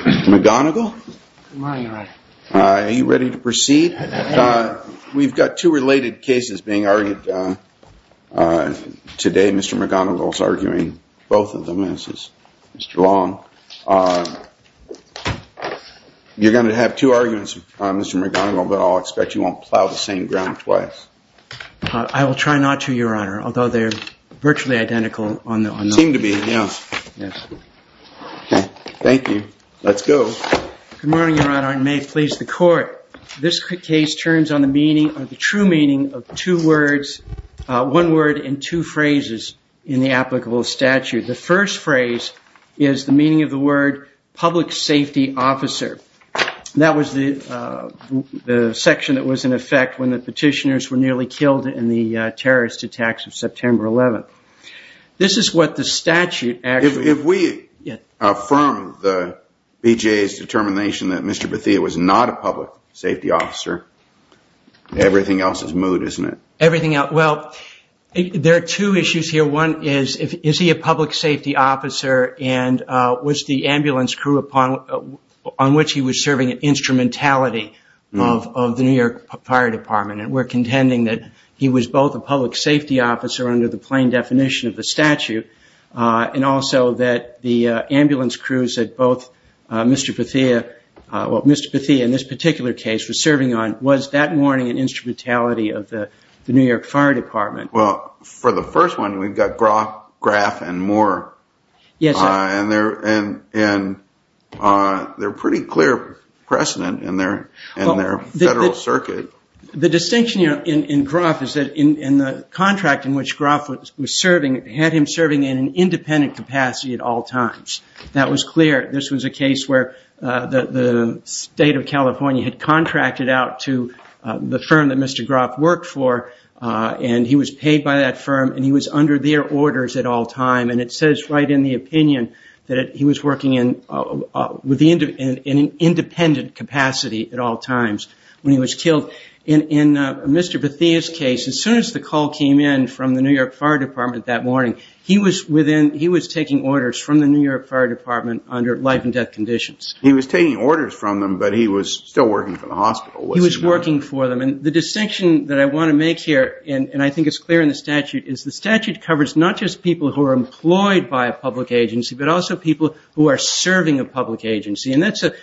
Mr. McGonigal, are you ready to proceed? We've got two related cases being argued today. Mr. McGonigal is arguing both of them, as is Mr. Long. You're going to have two arguments, Mr. McGonigal, but I'll expect you won't plow the same ground twice. I will try not to, Your Honor, although they're virtually identical. Thank you. Let's go. Good morning, Your Honor, and may it please the Court. This case turns on the true meaning of one word and two phrases in the applicable statute. The first phrase is the meaning of the word public safety officer. That was the section that was in effect when the petitioners were nearly killed in the terrorist attacks of September 11th. If we affirm the BJA's determination that Mr. Bethea was not a public safety officer, everything else is moot, isn't it? There are two issues here. One is, is he a public safety officer and was the ambulance crew on which he was serving an instrumentality of the New York Fire Department? We're contending that he was both a public safety officer under the plain definition of the statute and also that the ambulance crews that both Mr. Bethea, well, Mr. Bethea in this particular case was serving on, was that morning an instrumentality of the New York Fire Department? Well, for the first one, we've got Groff, Graff, and Moore. Yes. And they're pretty clear precedent in their federal circuit. The distinction in Groff is that in the contract in which Groff was serving, had him serving in an independent capacity at all times. That was clear. This was a case where the state of California had contracted out to the firm that Mr. Groff worked for, and he was paid by that firm, and he was under their orders at all time. And it says right in the opinion that he was working in an independent capacity at all times when he was killed. In Mr. Bethea's case, as soon as the call came in from the New York Fire Department that morning, he was within, he was taking orders from the New York Fire Department under life and death conditions. He was taking orders from them, but he was still working for the hospital. He was working for them. And the distinction that I want to make here, and I think it's clear in the statute, is the statute covers not just people who are employed by a public agency, but also people who are serving a public agency. And that's an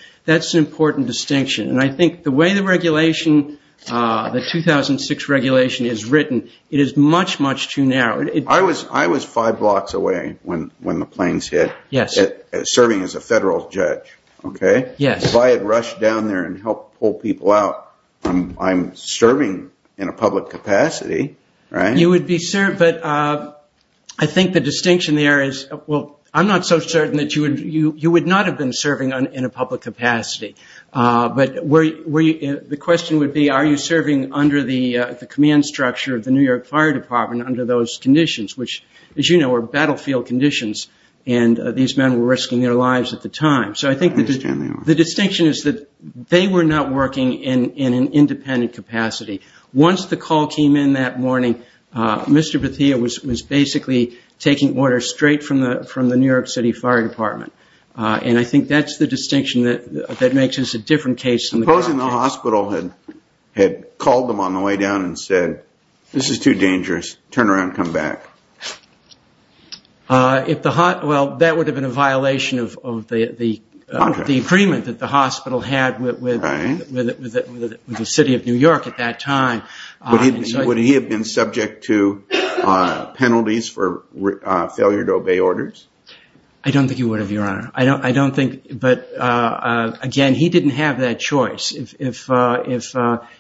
important distinction. And I think the way the regulation, the 2006 regulation is written, it is much, much too narrow. I was five blocks away when the planes hit, serving as a federal judge, okay? Yes. If I had rushed down there and helped pull people out, I'm serving in a public capacity, right? You would be served, but I think the distinction there is, well, I'm not so certain that you would not have been serving in a public capacity. But the question would be, are you serving under the command structure of the New York Fire Department under those conditions, which, as you know, are battlefield conditions, and these men were risking their lives at the time. So I think the distinction is that they were not working in an independent capacity. Once the call came in that morning, Mr. Bathia was basically taking orders straight from the New York City Fire Department. And I think that's the distinction that makes this a different case. Supposing the hospital had called them on the way down and said, this is too dangerous, turn around, come back. Well, that would have been a violation of the agreement that the hospital had with the city of New York at that time. Would he have been subject to penalties for failure to obey orders? I don't think he would have, Your Honor. I don't think, but again, he didn't have that choice. If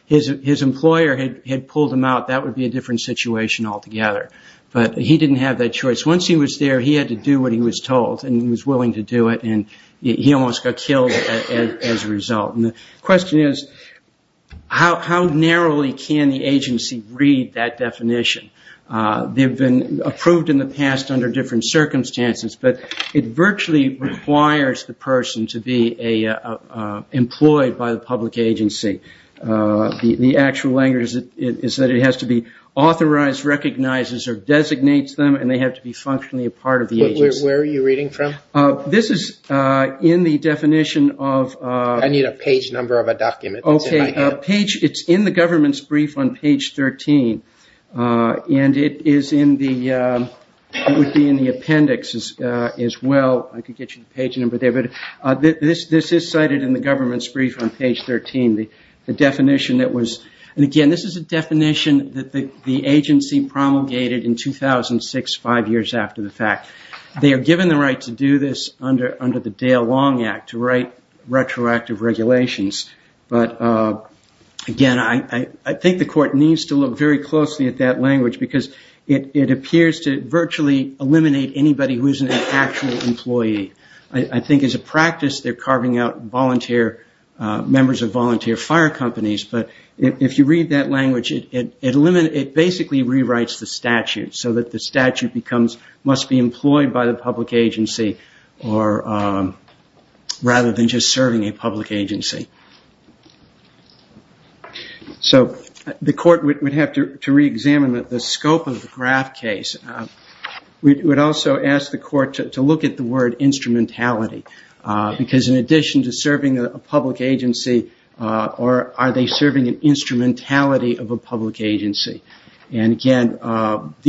his employer had pulled him out, that would be a different situation altogether. But he didn't have that choice. Once he was there, he had to do what he was told, and he was willing to do it, and he almost got killed as a result. And the question is, how narrowly can the agency read that definition? They've been approved in the past under different circumstances, but it virtually requires the person to be employed by the public agency. The actual language is that it has to be authorized, recognizes, or designates them, and they have to be functionally a part of the agency. Where are you reading from? This is in the definition of... I need a page number of a document. Okay. It's in the government's brief on page 13, and it would be in the appendix as well. I could get you the page number there, but this is cited in the government's brief on page 13. The definition that was... And again, this is a definition that the agency promulgated in 2006, five years after the fact. They are given the right to do this under the Dale Long Act, to write retroactive regulations. But again, I think the court needs to look very closely at that language because it appears to virtually eliminate anybody who isn't an actual employee. I think as a practice, they're carving out members of volunteer fire companies, but if you read that language, it basically rewrites the statute, so that the statute must be employed by the public agency rather than just serving a public agency. The court would have to re-examine the scope of the Graff case. We would also ask the court to look at the word instrumentality, because in addition to serving a public agency, are they serving an instrumentality of a public agency? And again, all of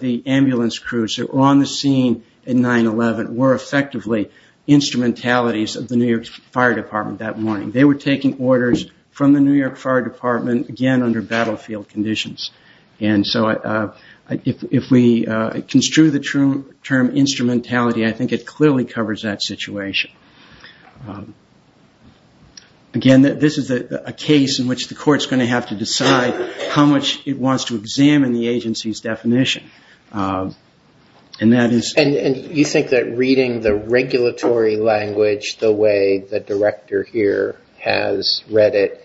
the ambulance crews that were on the scene at 9-11 were effectively instrumentalities of the New York Fire Department that morning. They were taking orders from the New York Fire Department, again, under battlefield conditions. And so if we construe the term instrumentality, I think it clearly covers that situation. Again, this is a case in which the court is going to have to decide how much it wants to examine the agency's definition. And you think that reading the regulatory language the way the director here has read it,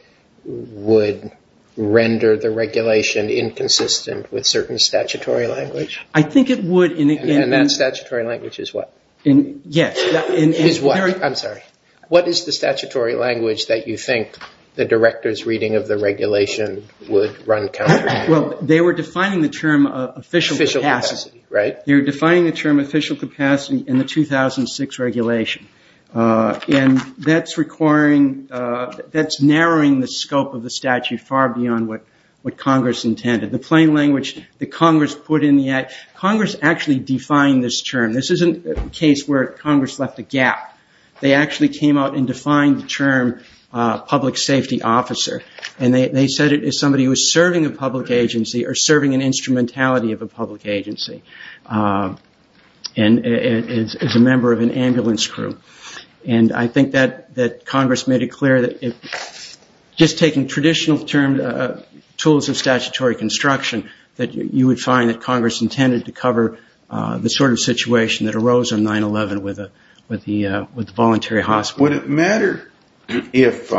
would render the regulation inconsistent with certain statutory language? I think it would. And that statutory language is what? Yes. Is what? I'm sorry. What is the statutory language that you think the director's reading of the regulation would run counter to? Well, they were defining the term official capacity in the 2006 regulation. And that's narrowing the scope of the statute far beyond what Congress intended. The plain language that Congress put in the act, Congress actually defined this term. This isn't a case where Congress left a gap. They actually came out and defined the term public safety officer. And they said it is somebody who is serving a public agency or serving an instrumentality of a public agency. And is a member of an ambulance crew. And I think that Congress made it clear that just taking traditional terms, tools of statutory construction, that you would find that Congress intended to cover the sort of situation that arose on 9-11 with the voluntary hospital. Would it matter if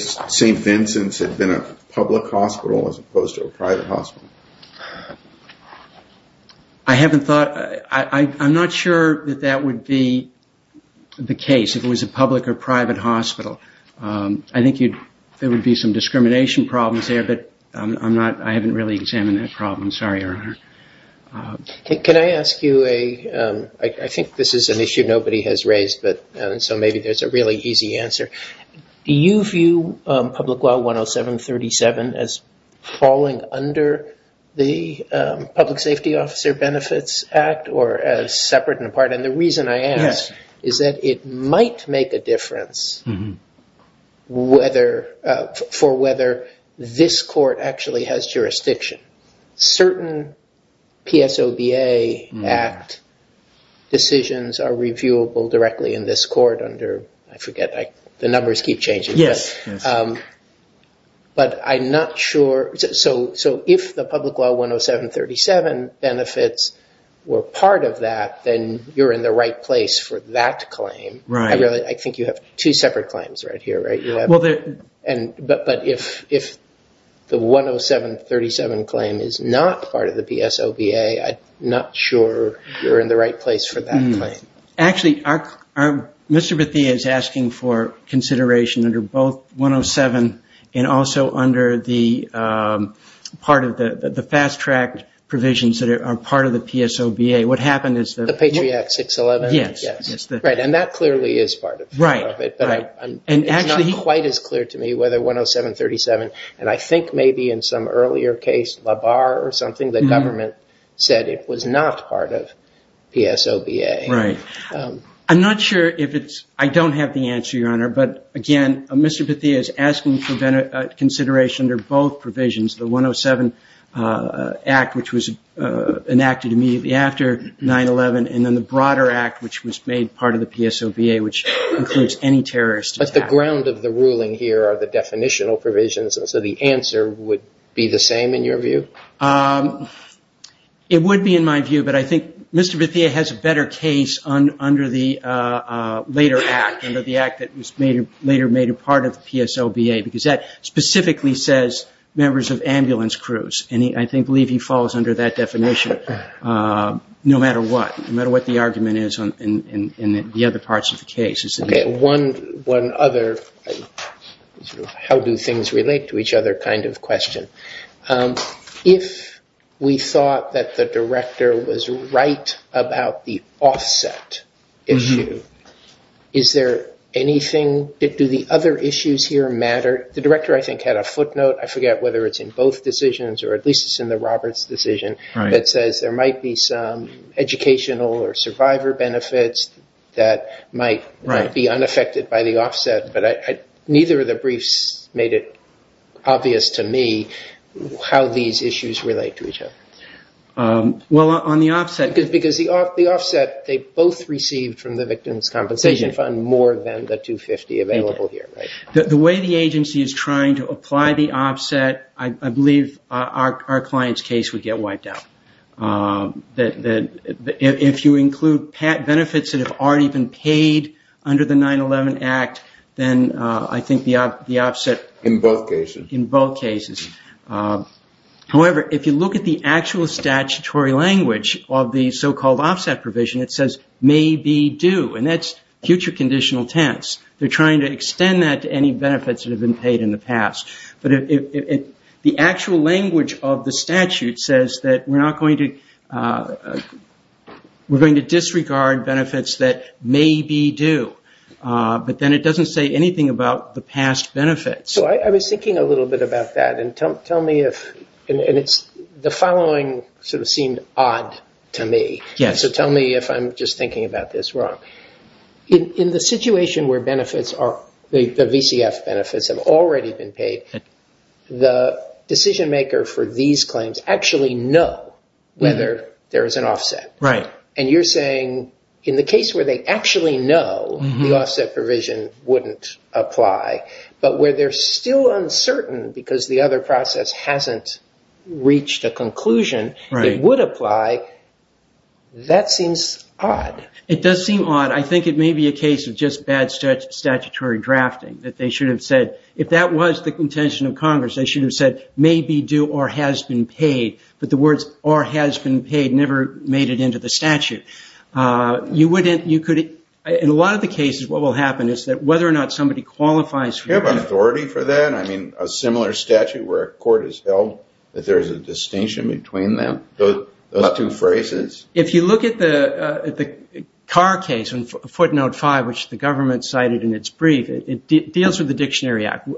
St. Vincent's had been a public hospital as opposed to a private hospital? I haven't thought. I'm not sure that that would be the case, if it was a public or private hospital. I think there would be some discrimination problems there, but I haven't really examined that problem. Sorry, Your Honor. Can I ask you, I think this is an issue nobody has raised, so maybe there's a really easy answer. Do you view Public Law 107-37 as falling under the Public Safety Officer Benefits Act or as separate and apart? And the reason I ask is that it might make a difference for whether this court actually has jurisdiction. Certain PSOBA Act decisions are reviewable directly in this court under, I forget, the numbers keep changing. Yes. But I'm not sure, so if the Public Law 107-37 benefits were part of that, then you're in the right place for that claim. Right. I think you have two separate claims right here, right? But if the 107-37 claim is not part of the PSOBA, I'm not sure you're in the right place for that claim. Actually, Mr. Bathia is asking for consideration under both 107 and also under the fast-tracked provisions that are part of the PSOBA. What happened is that... The Patriot 611? Yes. Right, and that clearly is part of it. But it's not quite as clear to me whether 107-37, and I think maybe in some earlier case, LaBar or something, the government said it was not part of PSOBA. Right. I'm not sure if it's... I don't have the answer, Your Honor. But again, Mr. Bathia is asking for consideration under both provisions, the 107 Act, which was enacted immediately after 9-11, and then the broader act, which was made part of the PSOBA, which includes any terrorist attack. But the ground of the ruling here are the definitional provisions, and so the answer would be the same in your view? It would be in my view, but I think Mr. Bathia has a better case under the later act, under the act that was later made a part of the PSOBA, because that specifically says members of ambulance crews, and I believe he falls under that definition no matter what, no matter what the argument is in the other parts of the case. Okay, one other how-do-things-relate-to-each-other kind of question. If we thought that the director was right about the offset issue, is there anything... do the other issues here matter? The director, I think, had a footnote, I forget whether it's in both decisions, or at least it's in the Roberts decision, that says there might be some educational or survivor benefits that might be unaffected by the offset, but neither of the briefs made it obvious to me how these issues relate to each other. Well, on the offset... Because the offset they both received from the Victim's Compensation Fund more than the 250 available here, right? The way the agency is trying to apply the offset, I believe our client's case would get wiped out. If you include benefits that have already been paid under the 9-11 Act, then I think the offset... In both cases. In both cases. However, if you look at the actual statutory language of the so-called offset provision, it says, and that's future conditional tense. They're trying to extend that to any benefits that have been paid in the past. But the actual language of the statute says that we're going to disregard benefits that may be due, but then it doesn't say anything about the past benefits. So I was thinking a little bit about that, and tell me if... The following sort of seemed odd to me. Yes. So tell me if I'm just thinking about this wrong. In the situation where the VCF benefits have already been paid, the decision maker for these claims actually know whether there is an offset. Right. And you're saying in the case where they actually know the offset provision wouldn't apply, but where they're still uncertain because the other process hasn't reached a conclusion it would apply, that seems odd. It does seem odd. I think it may be a case of just bad statutory drafting, that they should have said, if that was the contention of Congress, they should have said, may be due or has been paid. But the words, or has been paid, never made it into the statute. In a lot of the cases, what will happen is that whether or not somebody qualifies... Do you have an authority for that? I mean, a similar statute where a court has held that there is a distinction between them, those two phrases. If you look at the Carr case in footnote 5, which the government cited in its brief, it deals with the Dictionary Act.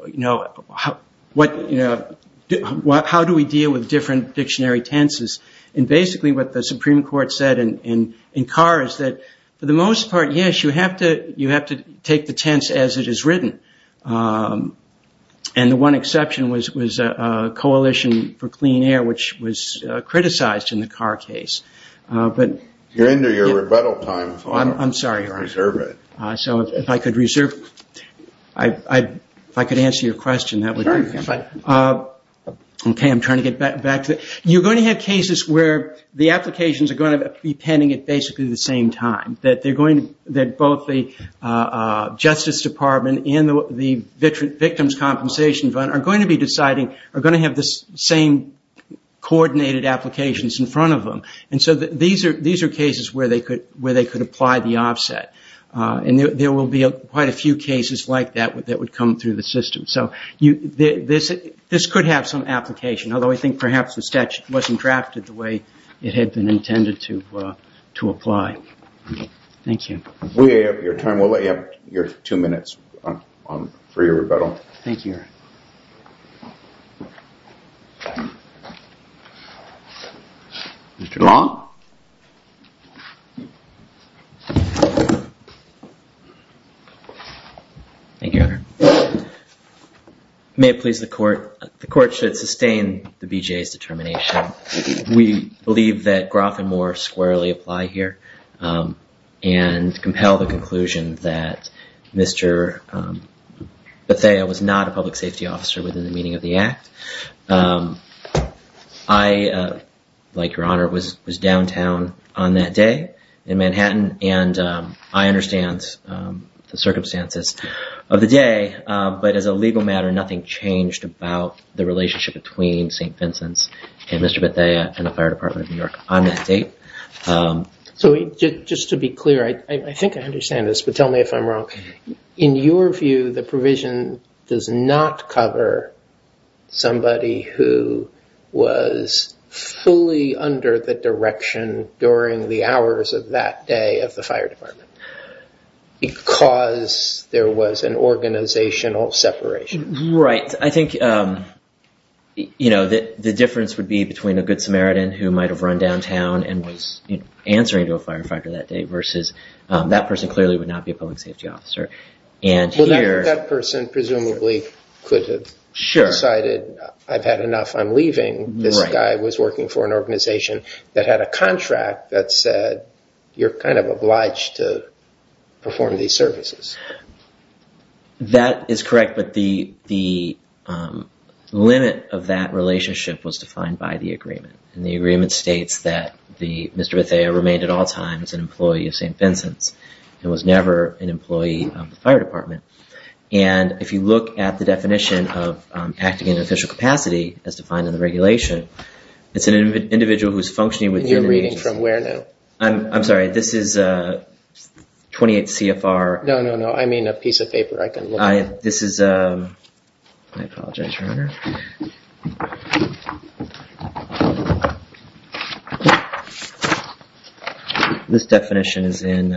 How do we deal with different dictionary tenses? And basically what the Supreme Court said in Carr is that for the most part, yes, you have to take the tense as it is written. And the one exception was Coalition for Clean Air, which was criticized in the Carr case. You're into your rebuttal time. I'm sorry, Your Honor. Reserve it. So if I could reserve... If I could answer your question, that would be... Sure. Okay, I'm trying to get back to it. You're going to have cases where the applications are going to be pending at basically the same time. Both the Justice Department and the Victims' Compensation Fund are going to be deciding... are going to have the same coordinated applications in front of them. And so these are cases where they could apply the offset. And there will be quite a few cases like that that would come through the system. So this could have some application, although I think perhaps the statute wasn't drafted the way it had been intended to apply. Thank you. We have your time. We'll let you have your two minutes for your rebuttal. Thank you, Your Honor. Mr. Long? Thank you, Your Honor. May it please the Court, the Court should sustain the BJA's determination. We believe that Groff and Moore squarely apply here and compel the conclusion that Mr. Bethea was not a public safety officer within the meaning of the act. I, like Your Honor, was downtown on that day in Manhattan, and I understand the circumstances of the day. But as a legal matter, nothing changed about the relationship between St. Vincent's and Mr. Bethea and the Fire Department of New York on that date. So just to be clear, I think I understand this, but tell me if I'm wrong. In your view, the provision does not cover somebody who was fully under the direction during the hours of that day of the Fire Department. Because there was an organizational separation. Right. I think, you know, the difference would be between a good Samaritan who might have run downtown and was answering to a firefighter that day versus that person clearly would not be a public safety officer. Well, that person presumably could have decided, I've had enough, I'm leaving. This guy was working for an organization that had a contract that said, you're kind of obliged to perform these services. That is correct, but the limit of that relationship was defined by the agreement. And the agreement states that Mr. Bethea remained at all times an employee of St. Vincent's and was never an employee of the Fire Department. And if you look at the definition of acting in an official capacity as defined in the regulation, it's an individual who's functioning with the organization. You're reading from where now? I'm sorry, this is 28 CFR. No, no, no, I mean a piece of paper I can look at. This is, I apologize. This definition is in.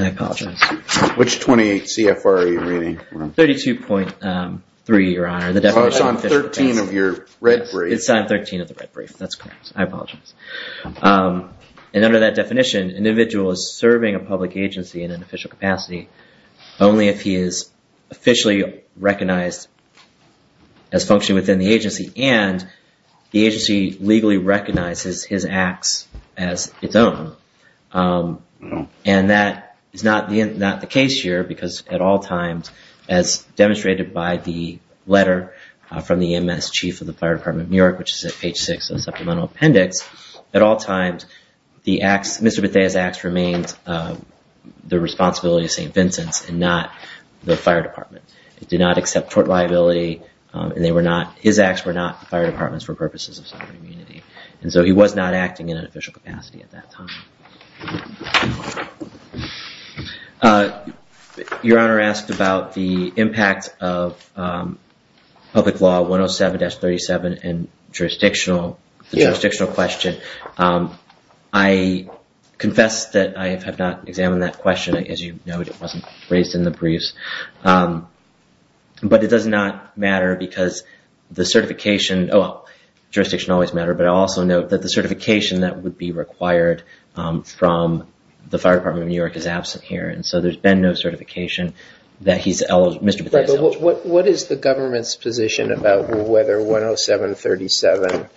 I apologize. Which 28 CFR are you reading? 32.3, Your Honor. It's on 13 of your red brief. It's on 13 of the red brief. That's correct. I apologize. And under that definition, an individual is serving a public agency in an official capacity only if he is officially recognized as functioning within the agency and the agency legally recognizes his acts as its own. And that is not the case here because at all times, as demonstrated by the letter from the MS Chief of the Fire Department of New York, which is at page 6 of the Supplemental Appendix, at all times, Mr. Bethea's acts remained the responsibility of St. Vincent's and not the Fire Department. It did not accept tort liability and his acts were not the Fire Department's for purposes of sovereign immunity. And so he was not acting in an official capacity at that time. Your Honor asked about the impact of Public Law 107-37 and jurisdictional, the jurisdictional question. I confess that I have not examined that question. As you know, it wasn't raised in the briefs. But it does not matter because the certification, well, jurisdiction always matters, but I also note that the certification that would be required from the Fire Department of New York is absent here. And so there's been no certification that he's Mr. Bethea's. What is the government's position about whether 107-37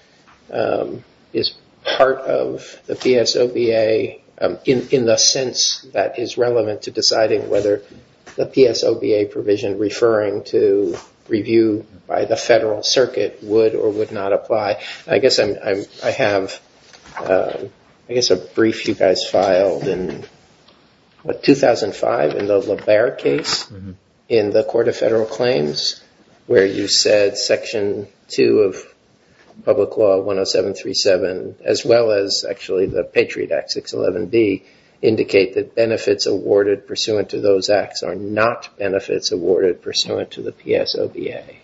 is part of the PSOBA in the sense that is relevant to deciding whether the PSOBA provision referring to review by the Federal Circuit would or would not apply? I guess I have, I guess a brief you guys filed in, what, 2005 in the LaBaer case in the Court of Federal Claims, where you said Section 2 of Public Law 107-37, as well as actually the Patriot Act 611B, indicate that benefits awarded pursuant to those acts are not benefits awarded pursuant to the PSOBA.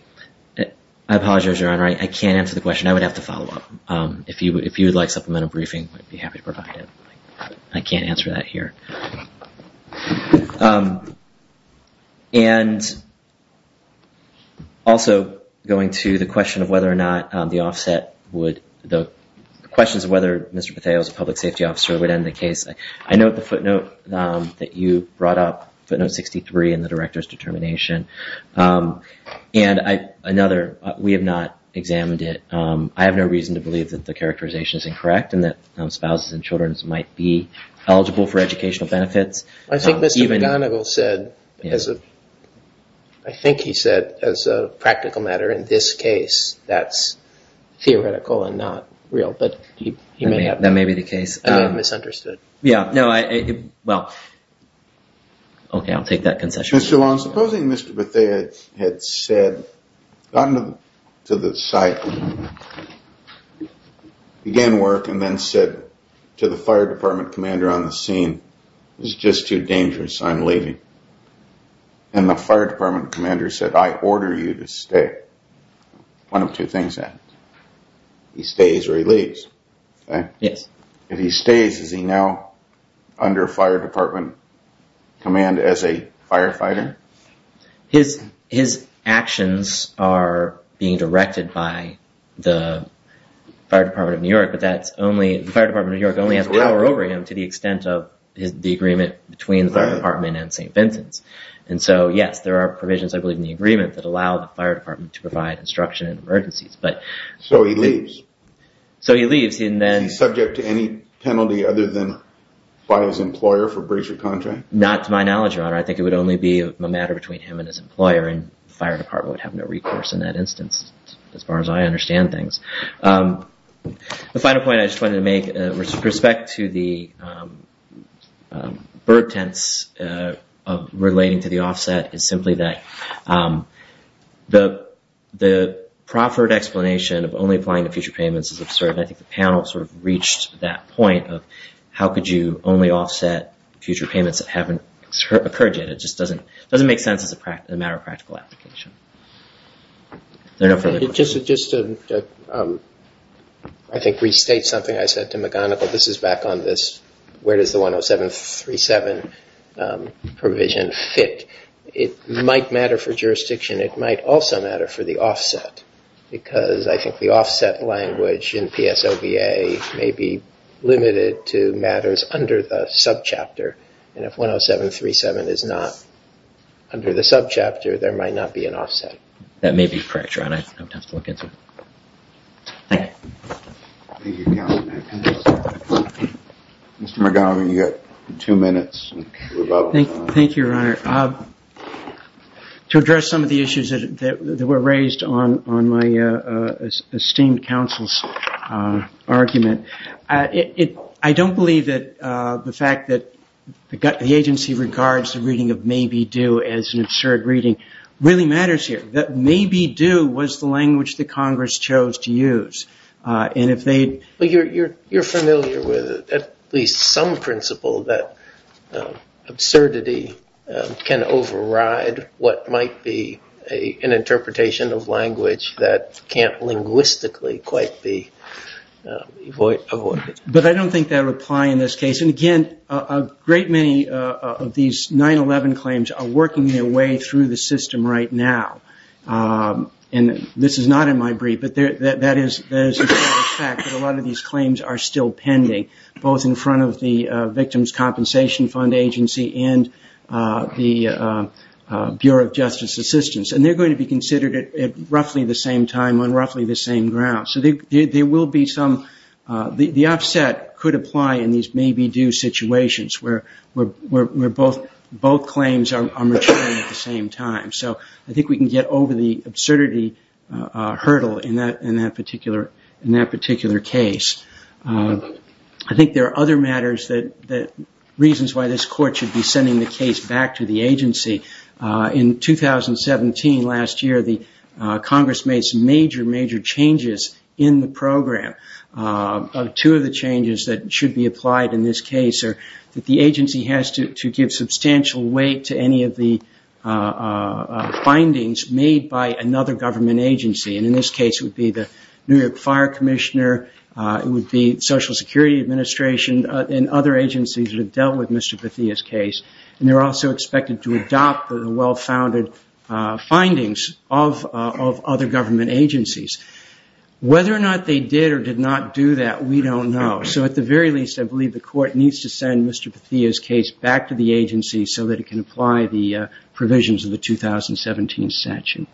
I apologize, Your Honor. I can't answer the question. I would have to follow up. If you would like supplemental briefing, I'd be happy to provide it. I can't answer that here. And also going to the question of whether or not the offset would, the questions of whether Mr. Bethea was a public safety officer would end the case. I note the footnote that you brought up, footnote 63 in the Director's determination. And another, we have not examined it. I have no reason to believe that the characterization is incorrect and that spouses and children might be eligible for educational benefits. I think Mr. McGonigal said, I think he said as a practical matter in this case, that's theoretical and not real. That may be the case. I may have misunderstood. Yeah, no, well, okay, I'll take that concession. Mr. Wong, supposing Mr. Bethea had said, gotten to the site, began work, and then said to the fire department commander on the scene, it's just too dangerous, I'm leaving. And the fire department commander said, I order you to stay. One of two things happens. He stays or he leaves. Yes. If he stays, is he now under fire department command as a firefighter? His actions are being directed by the fire department of New York, but that's only, the fire department of New York only has power over him to the extent of the agreement between the fire department and St. Vincent's. And so, yes, there are provisions, I believe, in the agreement that allow the fire department to provide instruction in emergencies, but. So he leaves. So he leaves and then. Is he subject to any penalty other than by his employer for breach of contract? Not to my knowledge, Your Honor. I think it would only be a matter between him and his employer, and the fire department would have no recourse in that instance, as far as I understand things. The final point I just wanted to make, with respect to the burdens of relating to the offset, is simply that the proffered explanation of only applying to future payments is absurd. I think the panel sort of reached that point of how could you only offset future payments that haven't occurred yet. It just doesn't make sense as a matter of practical application. Just to, I think, restate something I said to McGonigal. This is back on this, where does the 10737 provision fit? I think it might matter for jurisdiction. It might also matter for the offset, because I think the offset language in PSOBA may be limited to matters under the subchapter. And if 10737 is not under the subchapter, there might not be an offset. That may be correct, Your Honor. I don't have time to look into it. Thank you. Thank you, Counsel. Mr. McGonigal, you've got two minutes. Thank you, Your Honor. To address some of the issues that were raised on my esteemed counsel's argument, I don't believe that the fact that the agency regards the reading of may be due as an absurd reading really matters here. That may be due was the language that Congress chose to use. You're familiar with at least some principle that absurdity can override what might be an interpretation of language that can't linguistically quite be avoided. But I don't think that would apply in this case. And, again, a great many of these 9-11 claims are working their way through the system right now. And this is not in my brief, but that is a fact that a lot of these claims are still pending, both in front of the Victims' Compensation Fund agency and the Bureau of Justice Assistance. And they're going to be considered at roughly the same time on roughly the same ground. So there will be some – the offset could apply in these may be due situations where both claims are maturing at the same time. So I think we can get over the absurdity hurdle in that particular case. I think there are other matters that – reasons why this court should be sending the case back to the agency. In 2017, last year, the Congress made some major, major changes in the program. Two of the changes that should be applied in this case are that the agency has to give substantial weight to any of the findings made by another government agency. And in this case, it would be the New York Fire Commissioner. It would be Social Security Administration and other agencies that have dealt with Mr. Bathia's case. And they're also expected to adopt the well-founded findings of other government agencies. Whether or not they did or did not do that, we don't know. So at the very least, I believe the court needs to send Mr. Bathia's case back to the agency so that it can apply the provisions of the 2017 statute.